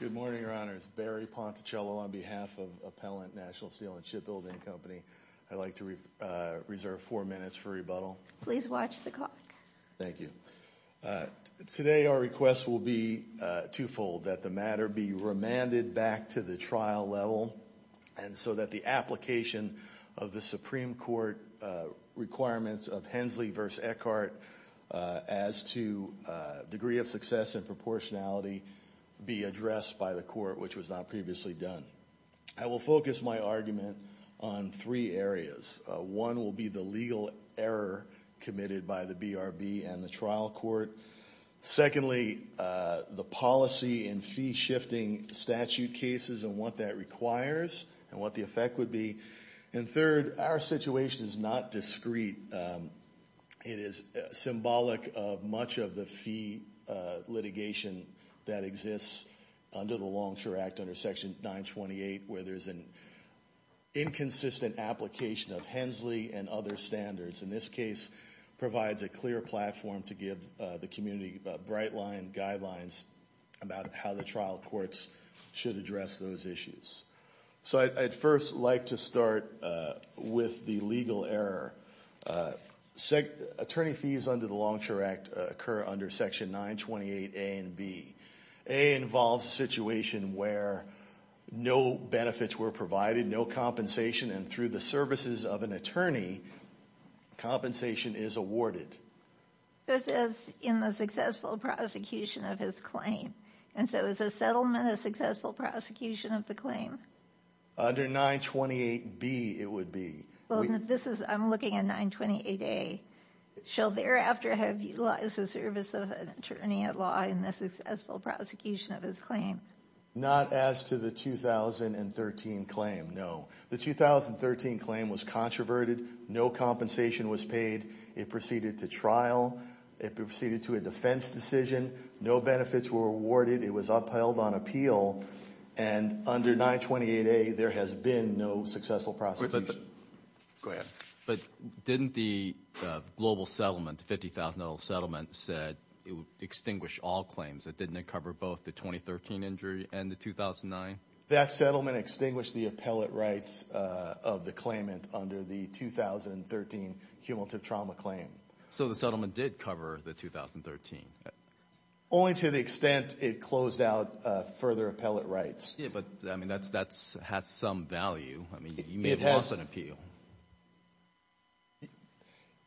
Good morning, Your Honors. Barry Ponticello on behalf of Appellant National Steel and Shipbuilding Company. I'd like to reserve four minutes for rebuttal. Please watch the clock. Thank you. Today our request will be two-fold, that the matter be remanded back to the trial level and so that the application of the Supreme Court requirements of Hensley v. Eckhart as to degree of success and proportionality be addressed by the court, which was not previously done. I will focus my argument on three areas. One will be the legal error committed by the BRB and the trial court. Secondly, the policy and fee-shifting statute cases and what that requires and what the effect would be. And third, our situation is not discreet. It is symbolic of much of the fee litigation that exists under the Longshore Act, under Section 928, where there is an inconsistent application of Hensley and other standards. And this case provides a clear platform to give the community bright-line guidelines about how the trial courts should address those issues. So I'd first like to start with the legal error. Attorney fees under the Longshore Act occur under Section 928A and B. A involves a situation where no benefits were provided, no compensation, and through the services of an attorney, compensation is awarded. This is in the successful prosecution of his claim. And so is a settlement a successful prosecution of the claim? Under 928B, it would be. I'm looking at 928A. Shall thereafter have utilized the service of an attorney-at-law in the successful prosecution of his claim? Not as to the 2013 claim, no. The 2013 claim was controverted. No compensation was paid. It proceeded to trial. It proceeded to a defense decision. No benefits were awarded. It was upheld on appeal. And under 928A, there has been no successful prosecution. Go ahead. But didn't the global settlement, the $50,000 settlement, said it would extinguish all claims? Didn't it cover both the 2013 injury and the 2009? That settlement extinguished the appellate rights of the claimant under the 2013 cumulative trauma claim. So the settlement did cover the 2013? Only to the extent it closed out further appellate rights. Yeah, but that has some value. I mean, you may have lost an appeal.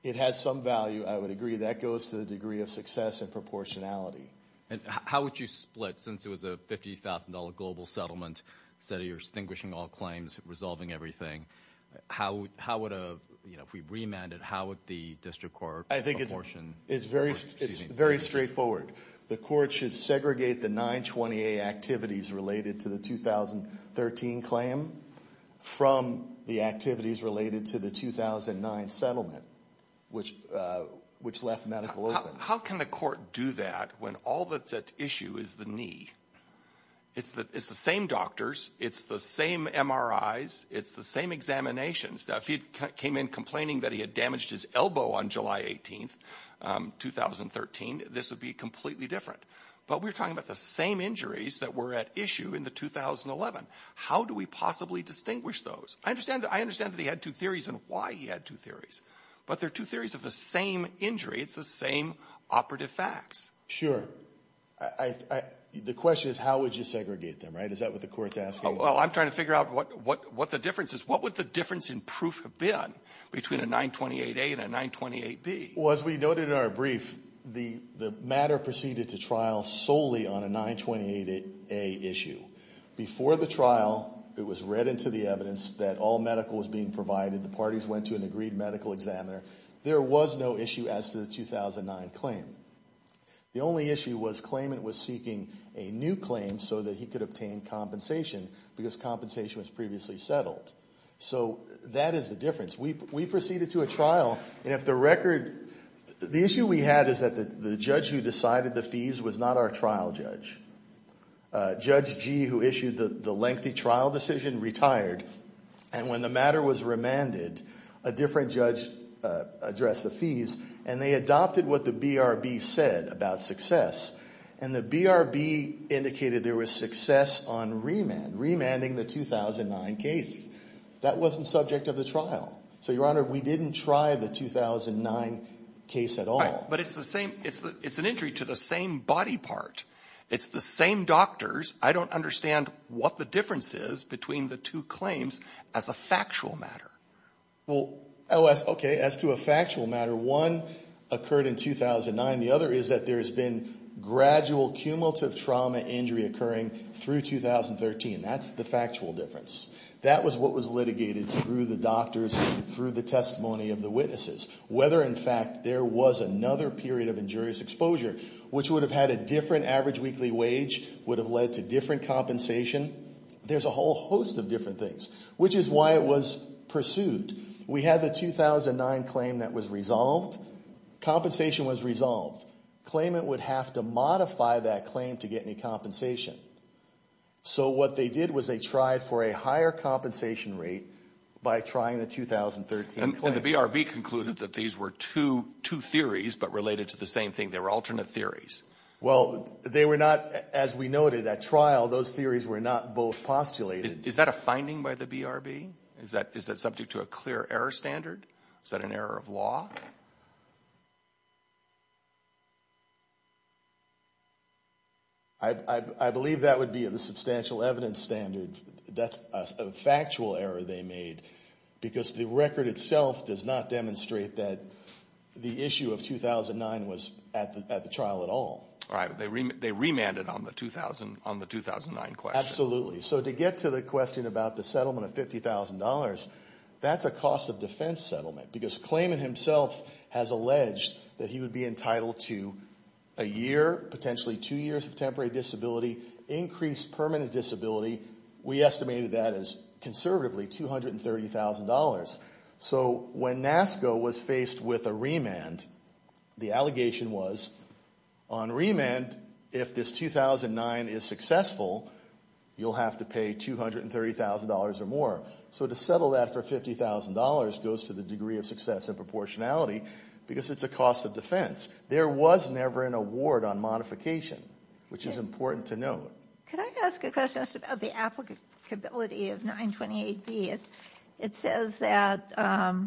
It has some value, I would agree. That goes to the degree of success and proportionality. And how would you split, since it was a $50,000 global settlement, said you're extinguishing all claims, resolving everything, how would a, you know, if we remanded, how would the district court proportion? I think it's very straightforward. The court should segregate the 928 activities related to the 2013 claim from the activities related to the 2009 settlement, which left medical open. How can the court do that when all that's at issue is the knee? It's the same doctors. It's the same MRIs. It's the same examination stuff. He came in complaining that he had damaged his elbow on July 18th, 2013. This would be completely different. But we're talking about the same injuries that were at issue in the 2011. How do we possibly distinguish those? I understand that he had two theories and why he had two theories. But they're two theories of the same injury. It's the same operative facts. Sure. I, I, the question is how would you segregate them, right? Is that what the court's asking? Oh, well, I'm trying to figure out what, what, what the difference is. What would the difference in proof have been between a 928A and a 928B? Well, as we noted in our brief, the, the matter proceeded to trial solely on a 928A issue. Before the trial, it was read into the evidence that all medical was being provided. The parties went to an agreed medical examiner. There was no issue as to the 2009 claim. The only issue was claimant was seeking a new claim so that he could obtain compensation because compensation was previously settled. So that is the difference. We, we proceeded to a trial and if the record, the issue we had is that the, the judge who decided the fees was not our trial judge. Judge G who issued the, the lengthy trial decision retired and when the matter was remanded, a different judge addressed the fees and they adopted what the BRB said about success and the BRB indicated there was success on remand, remanding the 2009 case. That wasn't subject of the trial. So, Your Honor, we didn't try the 2009 case at all. But it's the same, it's the, it's an injury to the same body part. It's the same doctors. I don't understand what the difference is between the two claims as a factual matter. Well, okay, as to a factual matter, one occurred in 2009. The other is that there has been gradual cumulative trauma injury occurring through 2013. That's the factual difference. That was what was litigated through the doctors, through the testimony of the witnesses. Whether in fact there was another period of injurious exposure which would have had a different average weekly wage, would have led to different compensation. There's a whole host of different things, which is why it was pursued. We had the 2009 claim that was resolved. Compensation was resolved. Claimant would have to modify that claim to get any compensation. So what they did was they tried for a higher compensation rate by trying the 2013 claim. And the BRB concluded that these were two, two theories but related to the same thing. They were alternate theories. Well, they were not, as we noted, at trial, those theories were not both postulated. Is that a finding by the BRB? Is that subject to a clear error standard? Is that an error of law? I believe that would be the substantial evidence standard. That's a factual error they made because the record itself does not demonstrate that the issue of 2009 was at the trial at all. All right, but they remanded on the 2009 question. Absolutely. So to get to the question about the settlement of $50,000, that's a cost of defense settlement because claimant himself has alleged that he would be entitled to a year, potentially two years of temporary disability, increased permanent disability. We estimated that as conservatively $230,000. So when NASCO was faced with a remand, the allegation was on remand, if this 2009 is successful, you'll have to pay $230,000 or more. So to settle that for $50,000 goes to the degree of success and proportionality because it's a cost of defense. There was never an award on modification, which is important to note. Could I ask a question just about the applicability of 928B? It says that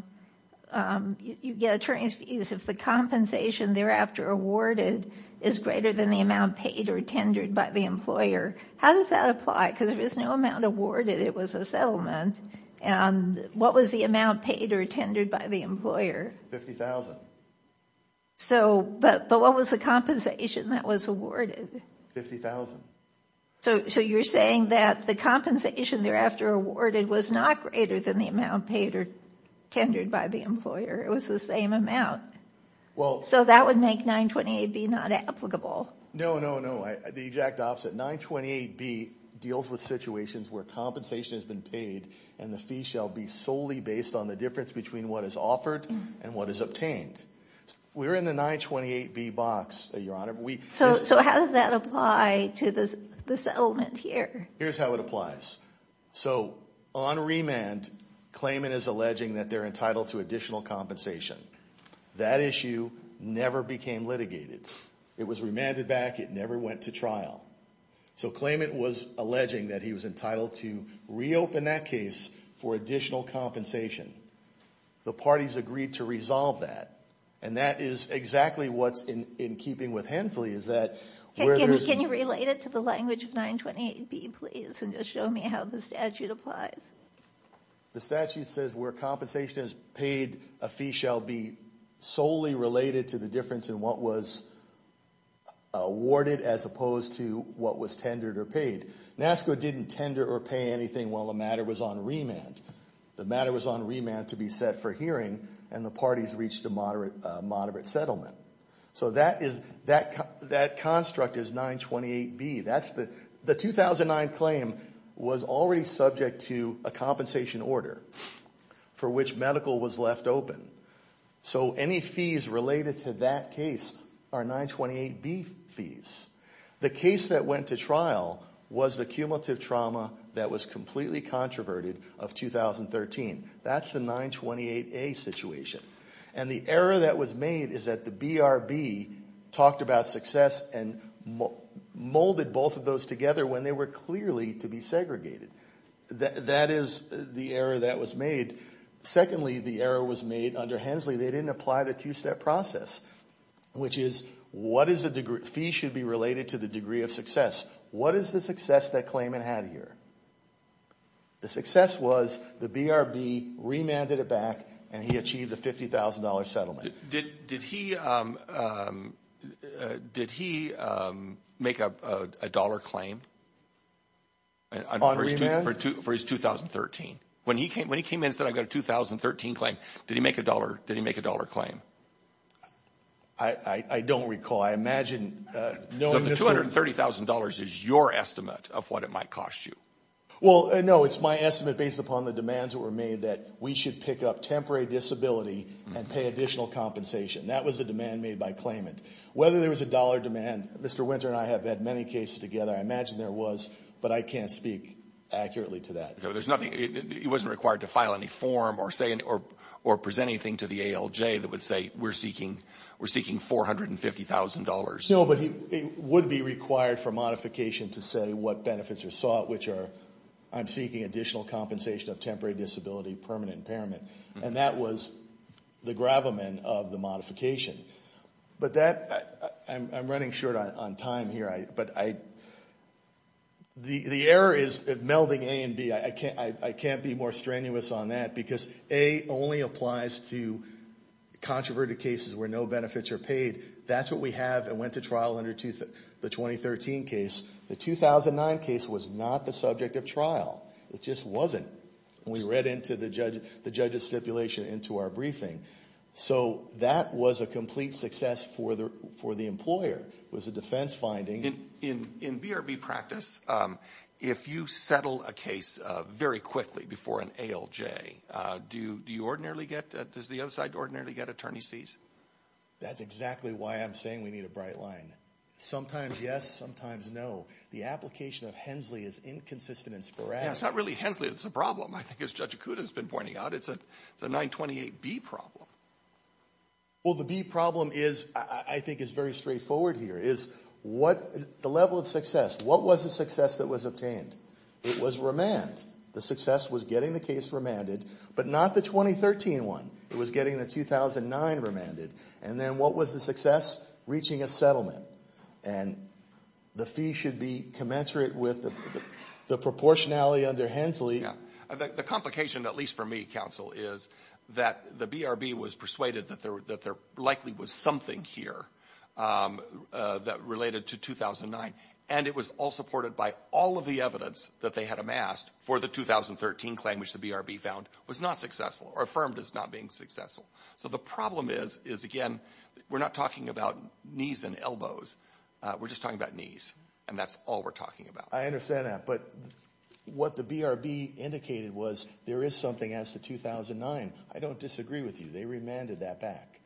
you get attorney's fees if the compensation thereafter awarded is greater than the amount paid or tendered by the employer. How does that apply? Because if there's no amount awarded, it was a settlement. What was the amount paid or tendered by the employer? But what was the compensation that was awarded? $50,000. So you're saying that the compensation thereafter awarded was not greater than the amount paid or tendered by the employer. It was the same amount. So that would make 928B not applicable. No, no, no. The exact opposite. 928B deals with situations where compensation has been paid and the fee shall be solely based on the difference between what is offered and what is obtained. We're in the 928B box, Your Honor. So how does that apply to the settlement here? Here's how it applies. So on remand, Klayman is alleging that they're entitled to additional compensation. That issue never became litigated. It was remanded back. It never went to trial. So Klayman was alleging that he was entitled to reopen that case for additional compensation. The parties agreed to resolve that. And that is exactly what's in keeping with Hensley is that... Can you relate it to the language of 928B, please, and just show me how the statute applies? The statute says where compensation is paid, a fee shall be solely related to the difference in what was awarded as opposed to what was tendered or paid. NASCO didn't tender or pay anything while the matter was on remand. The matter was on remand to be set for hearing and the parties reached a moderate settlement. So that construct is 928B. The 2009 claim was already subject to a compensation order for which medical was left open. So any fees related to that case are 928B fees. The case that went to trial was the cumulative trauma that was completely controverted of 2013. That's the 928A situation. And the error that was made is that the BRB talked about success and molded both of those together when they were clearly to be segregated. That is the error that was made. Secondly, the error was made under Hensley. They didn't apply the two-step process, which is what is the degree... related to the degree of success. What is the success that claimant had here? The success was the BRB remanded it back and he achieved a $50,000 settlement. Did he make a dollar claim for his 2013? When he came in and said, I've got a 2013 claim, did he make a dollar claim? The $230,000 is your estimate of what it might cost you. Well, no, it's my estimate based upon the demands that were made that we should pick up temporary disability and pay additional compensation. That was the demand made by claimant. Whether there was a dollar demand, Mr. Winter and I have had many cases together, I imagine there was, but I can't speak accurately to that. There's nothing, he wasn't required to file any form or present anything to the ALJ that would say we're seeking $450,000. No, but he would be required for modification to say what benefits are sought, which are I'm seeking additional compensation of temporary disability, permanent impairment. And that was the gravamen of the modification. But that, I'm running short on time here, but I... The error is melding A and B. I can't be more strenuous on that because A only applies to controverted cases where no benefits are paid. That's what we have and went to trial under the 2013 case. The 2009 case was not the subject of trial. It just wasn't. We read into the judge's stipulation into our briefing. So that was a complete success for the employer, was a defense finding. In BRB practice, if you settle a case very quickly before an ALJ, do you ordinarily get, does the other side ordinarily get attorney's fees? That's exactly why I'm saying we need a bright line. Sometimes yes, sometimes no. The application of Hensley is inconsistent and sporadic. Yeah, it's not really Hensley that's the problem. I think as Judge Akuta has been pointing out, it's a 928B problem. Well, the B problem is, I think is very straightforward here, is what the level of success, what was the success that was obtained? It was remand. The success was getting the case remanded, but not the 2013 one. It was getting the 2009 remanded. And then what was the success? Reaching a settlement. And the fee should be commensurate with the proportionality under Hensley. Yeah. The complication, at least for me, counsel, is that the BRB was persuaded that there likely was something here that related to 2009. And it was all supported by all of the evidence that they had amassed for the 2013 claim, which the BRB found was not successful, or affirmed as not being successful. So the problem is, is again, we're not talking about knees and elbows. We're just talking about knees. And that's all we're talking about. I understand that. But what the BRB indicated was there is something as to 2009. I don't disagree with you. They remanded that back.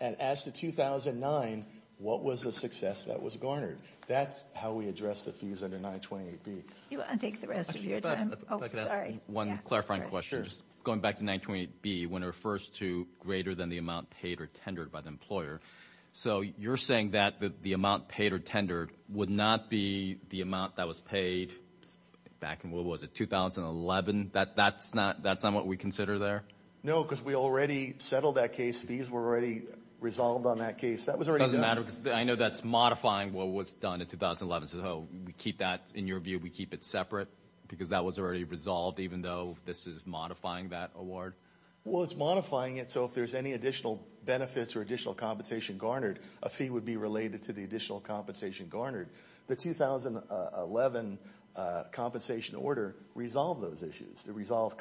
And as to 2009, what was the success that was garnered? That's how we address the fees under 928B. You want to take the rest of your time? Oh, sorry. One clarifying question. Sure. Just going back to 928B, when it refers to greater than the amount paid or tendered by the employer. So you're saying that the amount paid or tendered would not be the amount that was paid back in, what was it, 2011? That's not what we consider there? No, because we already settled that case. Fees were already resolved on that case. It doesn't matter, because I know that's modifying what was done in 2011. So we keep that, in your view, we keep it separate? Because that was already resolved, even though this is modifying that award? Well, it's modifying it. So if there's any additional benefits or additional compensation garnered, a fee would be related to the additional compensation garnered. The 2011 compensation order resolved those issues. It resolved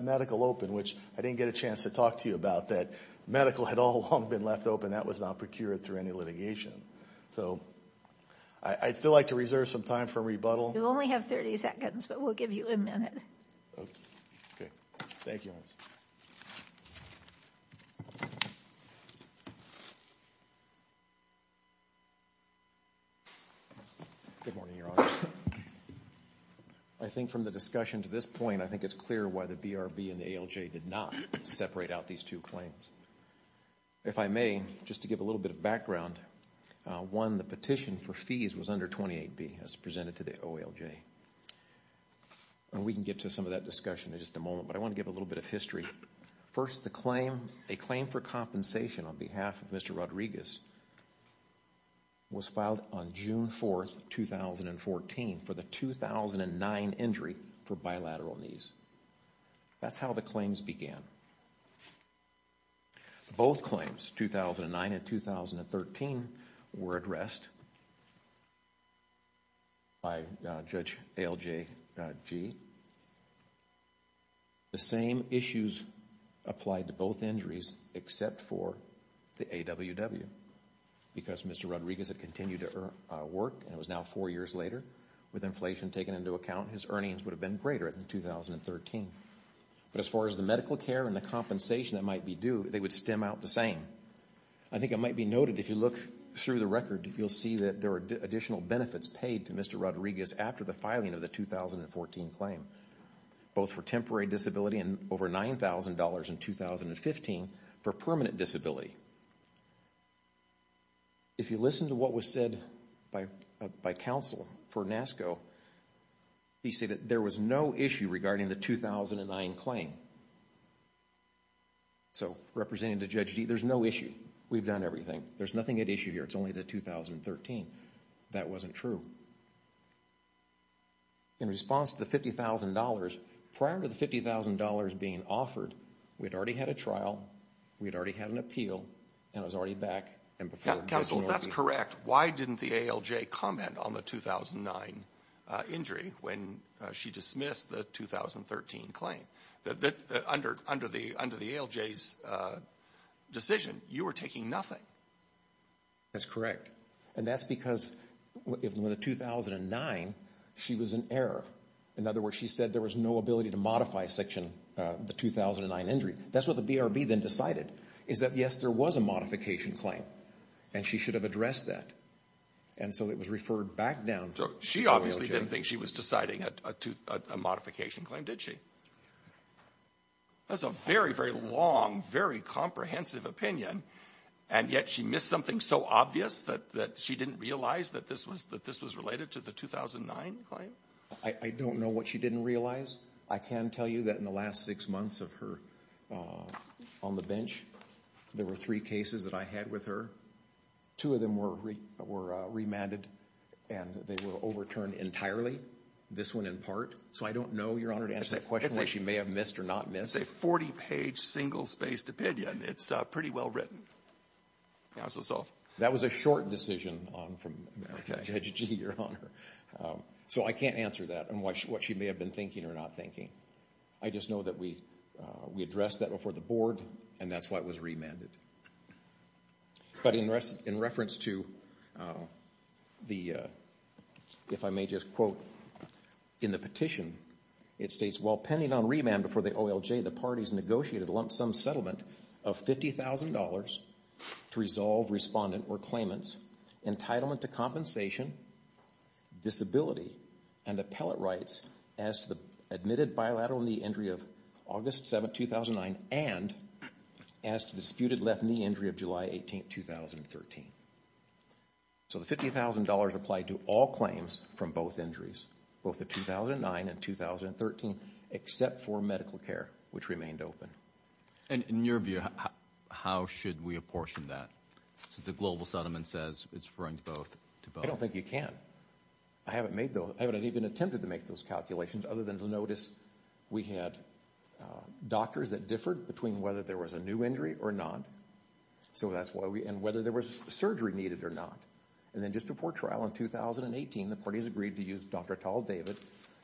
medical open, which I didn't get a chance to talk to you about, that medical had all along been left open. That was not procured through any litigation. So I'd still like to reserve some time for rebuttal. You only have 30 seconds, but we'll give you a minute. Okay. Thank you. Good morning, Your Honor. I think from the discussion to this point, I think it's clear why the BRB and the ALJ did not separate out these two claims. If I may, just to give a little bit of background, one, the petition for fees was under 28B, as presented to the ALJ. We can get to some of that discussion in just a moment, but I want to give a little bit of history. First, the claim, a claim for compensation on behalf of Mr. Rodriguez was filed on June 4th, 2014 for the 2009 injury for bilateral knees. That's how the claims began. Both claims, 2009 and 2013, were addressed by Judge ALJG. The same issues applied to both injuries except for the AWW. Because Mr. Rodriguez had continued to work, and it was now four years later, with inflation taken into account, his earnings would have been greater in 2013. But as far as the medical care and the compensation that might be due, they would stem out the same. I think it might be noted, if you look through the record, you'll see that there were additional benefits paid to Mr. Rodriguez after the filing of the 2014 claim, both for temporary disability and over $9,000 in 2015 for permanent disability. If you listen to what was said by counsel for NASCO, he said that there was no issue regarding the 2009 claim. So, representing the Judge, there's no issue. We've done everything. There's nothing at issue here. It's only the 2013. That wasn't true. In response to the $50,000, prior to the $50,000 being offered, we'd already had a trial, we'd already had an appeal, and it was already back. Counsel, that's correct. Why didn't the ALJ comment on the 2009 injury when she dismissed the 2013 claim? Under the ALJ's decision, you were taking nothing. That's correct. And that's because in the 2009, she was in error. In other words, she said there was no ability to modify section, the 2009 injury. That's what the BRB then decided, is that, yes, there was a modification claim, and she should have addressed that. And so it was referred back down. She obviously didn't think she was deciding a modification claim, did she? That's a very, very long, very comprehensive opinion, and yet she missed something so obvious that she didn't realize that this was related to the 2009 claim? I don't know what she didn't realize. I can tell you that in the last six months of her on the bench, there were three cases that I had with her. Two of them were remanded, and they were overturned entirely. This one in part. So I don't know, Your Honor, to answer that question whether she may have missed or not missed. It's a 40-page, single-spaced opinion. It's pretty well written. Pass this off. That was a short decision from Judge G, Your Honor. So I can't answer that and what she may have been thinking or not thinking. I just know that we addressed that before the board, and that's why it was remanded. But in reference to the, if I may just quote in the petition, it states, while pending on remand before the OLJ, the parties negotiated a lump sum settlement of $50,000 to resolve respondent or claimant's entitlement to compensation, disability, and appellate rights as to the admitted bilateral knee injury of August 7, 2009, and as to the disputed left knee injury of July 18, 2013. So the $50,000 applied to all claims from both injuries, both the 2009 and 2013, except for medical care, which remained open. And in your view, how should we apportion that? Since the global settlement says it's referring to both. I don't think you can. I haven't made those, I haven't even attempted to make those calculations other than to notice we had doctors that differed between whether there was a new injury or not, so that's why we, and whether there was surgery needed or not. And then just before trial in 2018, the parties agreed to use Dr. Tal David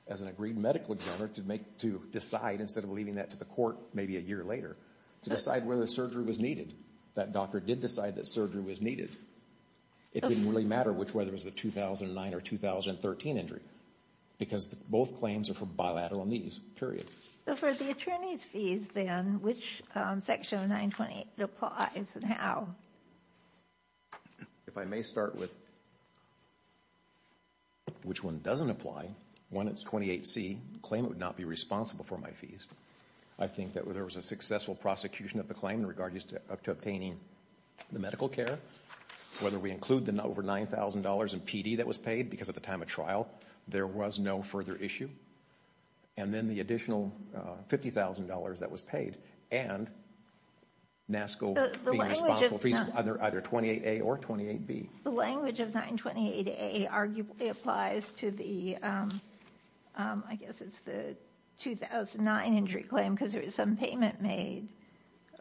as an agreed medical examiner to make, to decide, instead of leaving that to the court maybe a year later, to decide whether surgery was needed. That doctor did decide that surgery was needed. It didn't really matter which, whether it was a 2009 or 2013 injury, because both claims are for bilateral knees, period. So for the attorney's fees then, which section of 928 applies and how? If I may start with which one doesn't apply, one that's 28C, claim it would not be responsible for my fees. I think that there was a successful prosecution of the claim in regard to obtaining the medical care, whether we include the over $9,000 in PD that was paid, because at the time of trial there was no further issue, and then the additional $50,000 that was paid, and NASCO being responsible for either 28A or 28B. The language of 928A arguably applies to the, I guess it's the 2009 injury claim, because there was some payment made,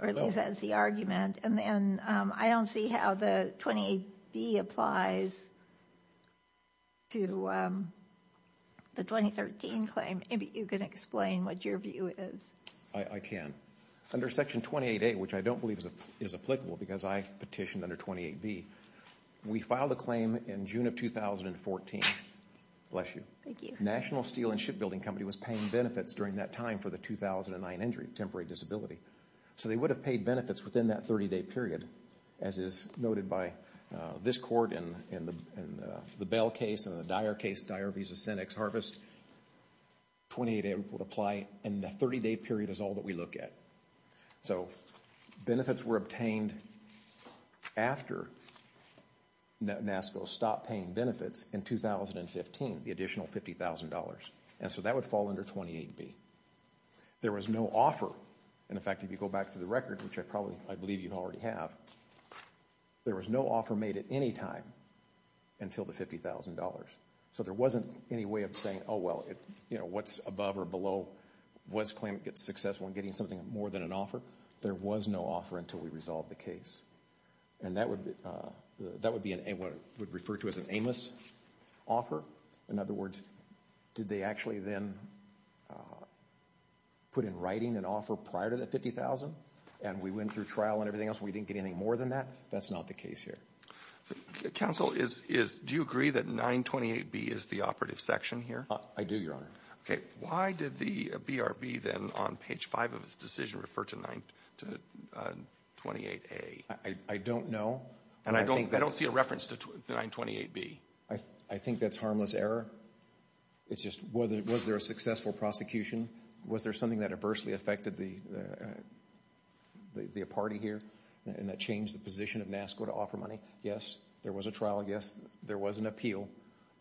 or at least that's the argument. And then I don't see how the 28B applies to the 2013 claim. Maybe you can explain what your view is. I can. Under Section 28A, which I don't believe is applicable, because I petitioned under 28B, we filed a claim in June of 2014. Bless you. Thank you. National Steel and Shipbuilding Company was paying benefits during that time for the 2009 injury, temporary disability. So they would have paid benefits within that 30-day period, as is noted by this court in the Bell case and the Dyer case, Dyer v. Senex Harvest. 28A would apply, and the 30-day period is all that we look at. So benefits were obtained after NASCO stopped paying benefits in 2015, the additional $50,000. And so that would fall under 28B. There was no offer, and in fact if you go back to the record, which I probably, I believe you already have, there was no offer made at any time until the $50,000. So there wasn't any way of saying, oh well, it, you know, what's above or below was claiming it successful in getting something more than an offer. There was no offer until we resolved the case. And that would be an aimless offer. In other words, did they actually then put in writing an offer prior to the $50,000, and we went through trial and everything else, we didn't get anything more than that? That's not the case here. Roberts. Counsel, is, do you agree that 928B is the operative section here? I do, Your Honor. Okay, why did the BRB then on page 5 of its decision refer to 928A? I don't know. And I don't see a reference to 928B. I think that's harmless error. It's just, was there a successful prosecution? Was there something that adversely affected the party here, and that changed the position of NASCO to offer money? Yes, there was a trial. Yes, there was an appeal.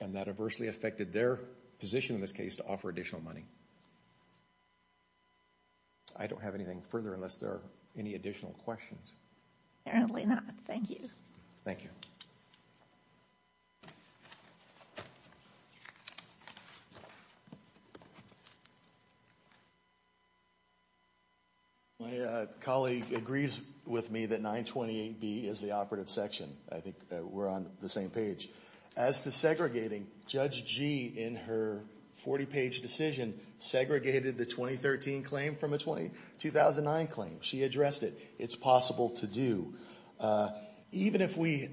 And that adversely affected their position in this case to offer additional money. I don't have anything further unless there are any additional questions. Apparently not. Thank you. Thank you. My colleague agrees with me that 928B is the operative section. I think we're on the same page. As to segregating, Judge Gee in her 40-page decision segregated the 2013 claim from a 2009 claim. She addressed it. It's possible to do. Even if we,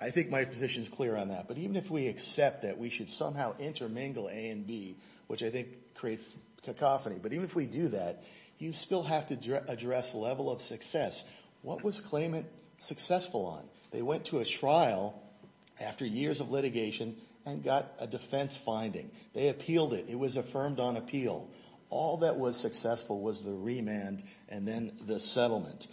I think my position is clear on that, but even if we accept that we should somehow intermingle A and B, which I think creates cacophony, but even if we do that, you still have to address level of success. What was claimant successful on? They went to a trial after years of litigation and got a defense finding. They appealed it. It was affirmed on appeal. All that was successful was the remand and then the settlement.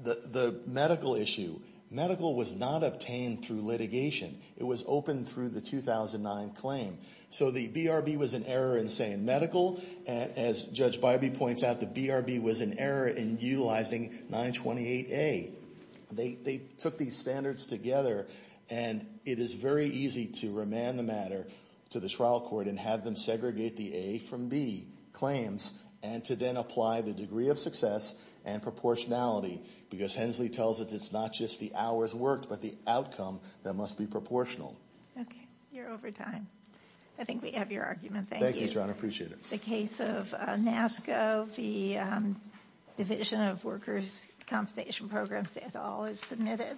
The medical issue, medical was not obtained through litigation. It was opened through the 2009 claim. So the BRB was in error in saying medical. As Judge points out, the BRB was in error in utilizing 928A. They took these standards together and it is very easy to remand the matter to the trial court and have them segregate the A from B claims and to then apply the degree of success and proportionality because Hensley tells us it's not just the hours worked, but the outcome that must be proportional. Okay. You're over time. I think we have your argument. Thank you, Your Honor. Appreciate it. The case of NASCO, the Division of Workers Compensation Programs, et al. is submitted.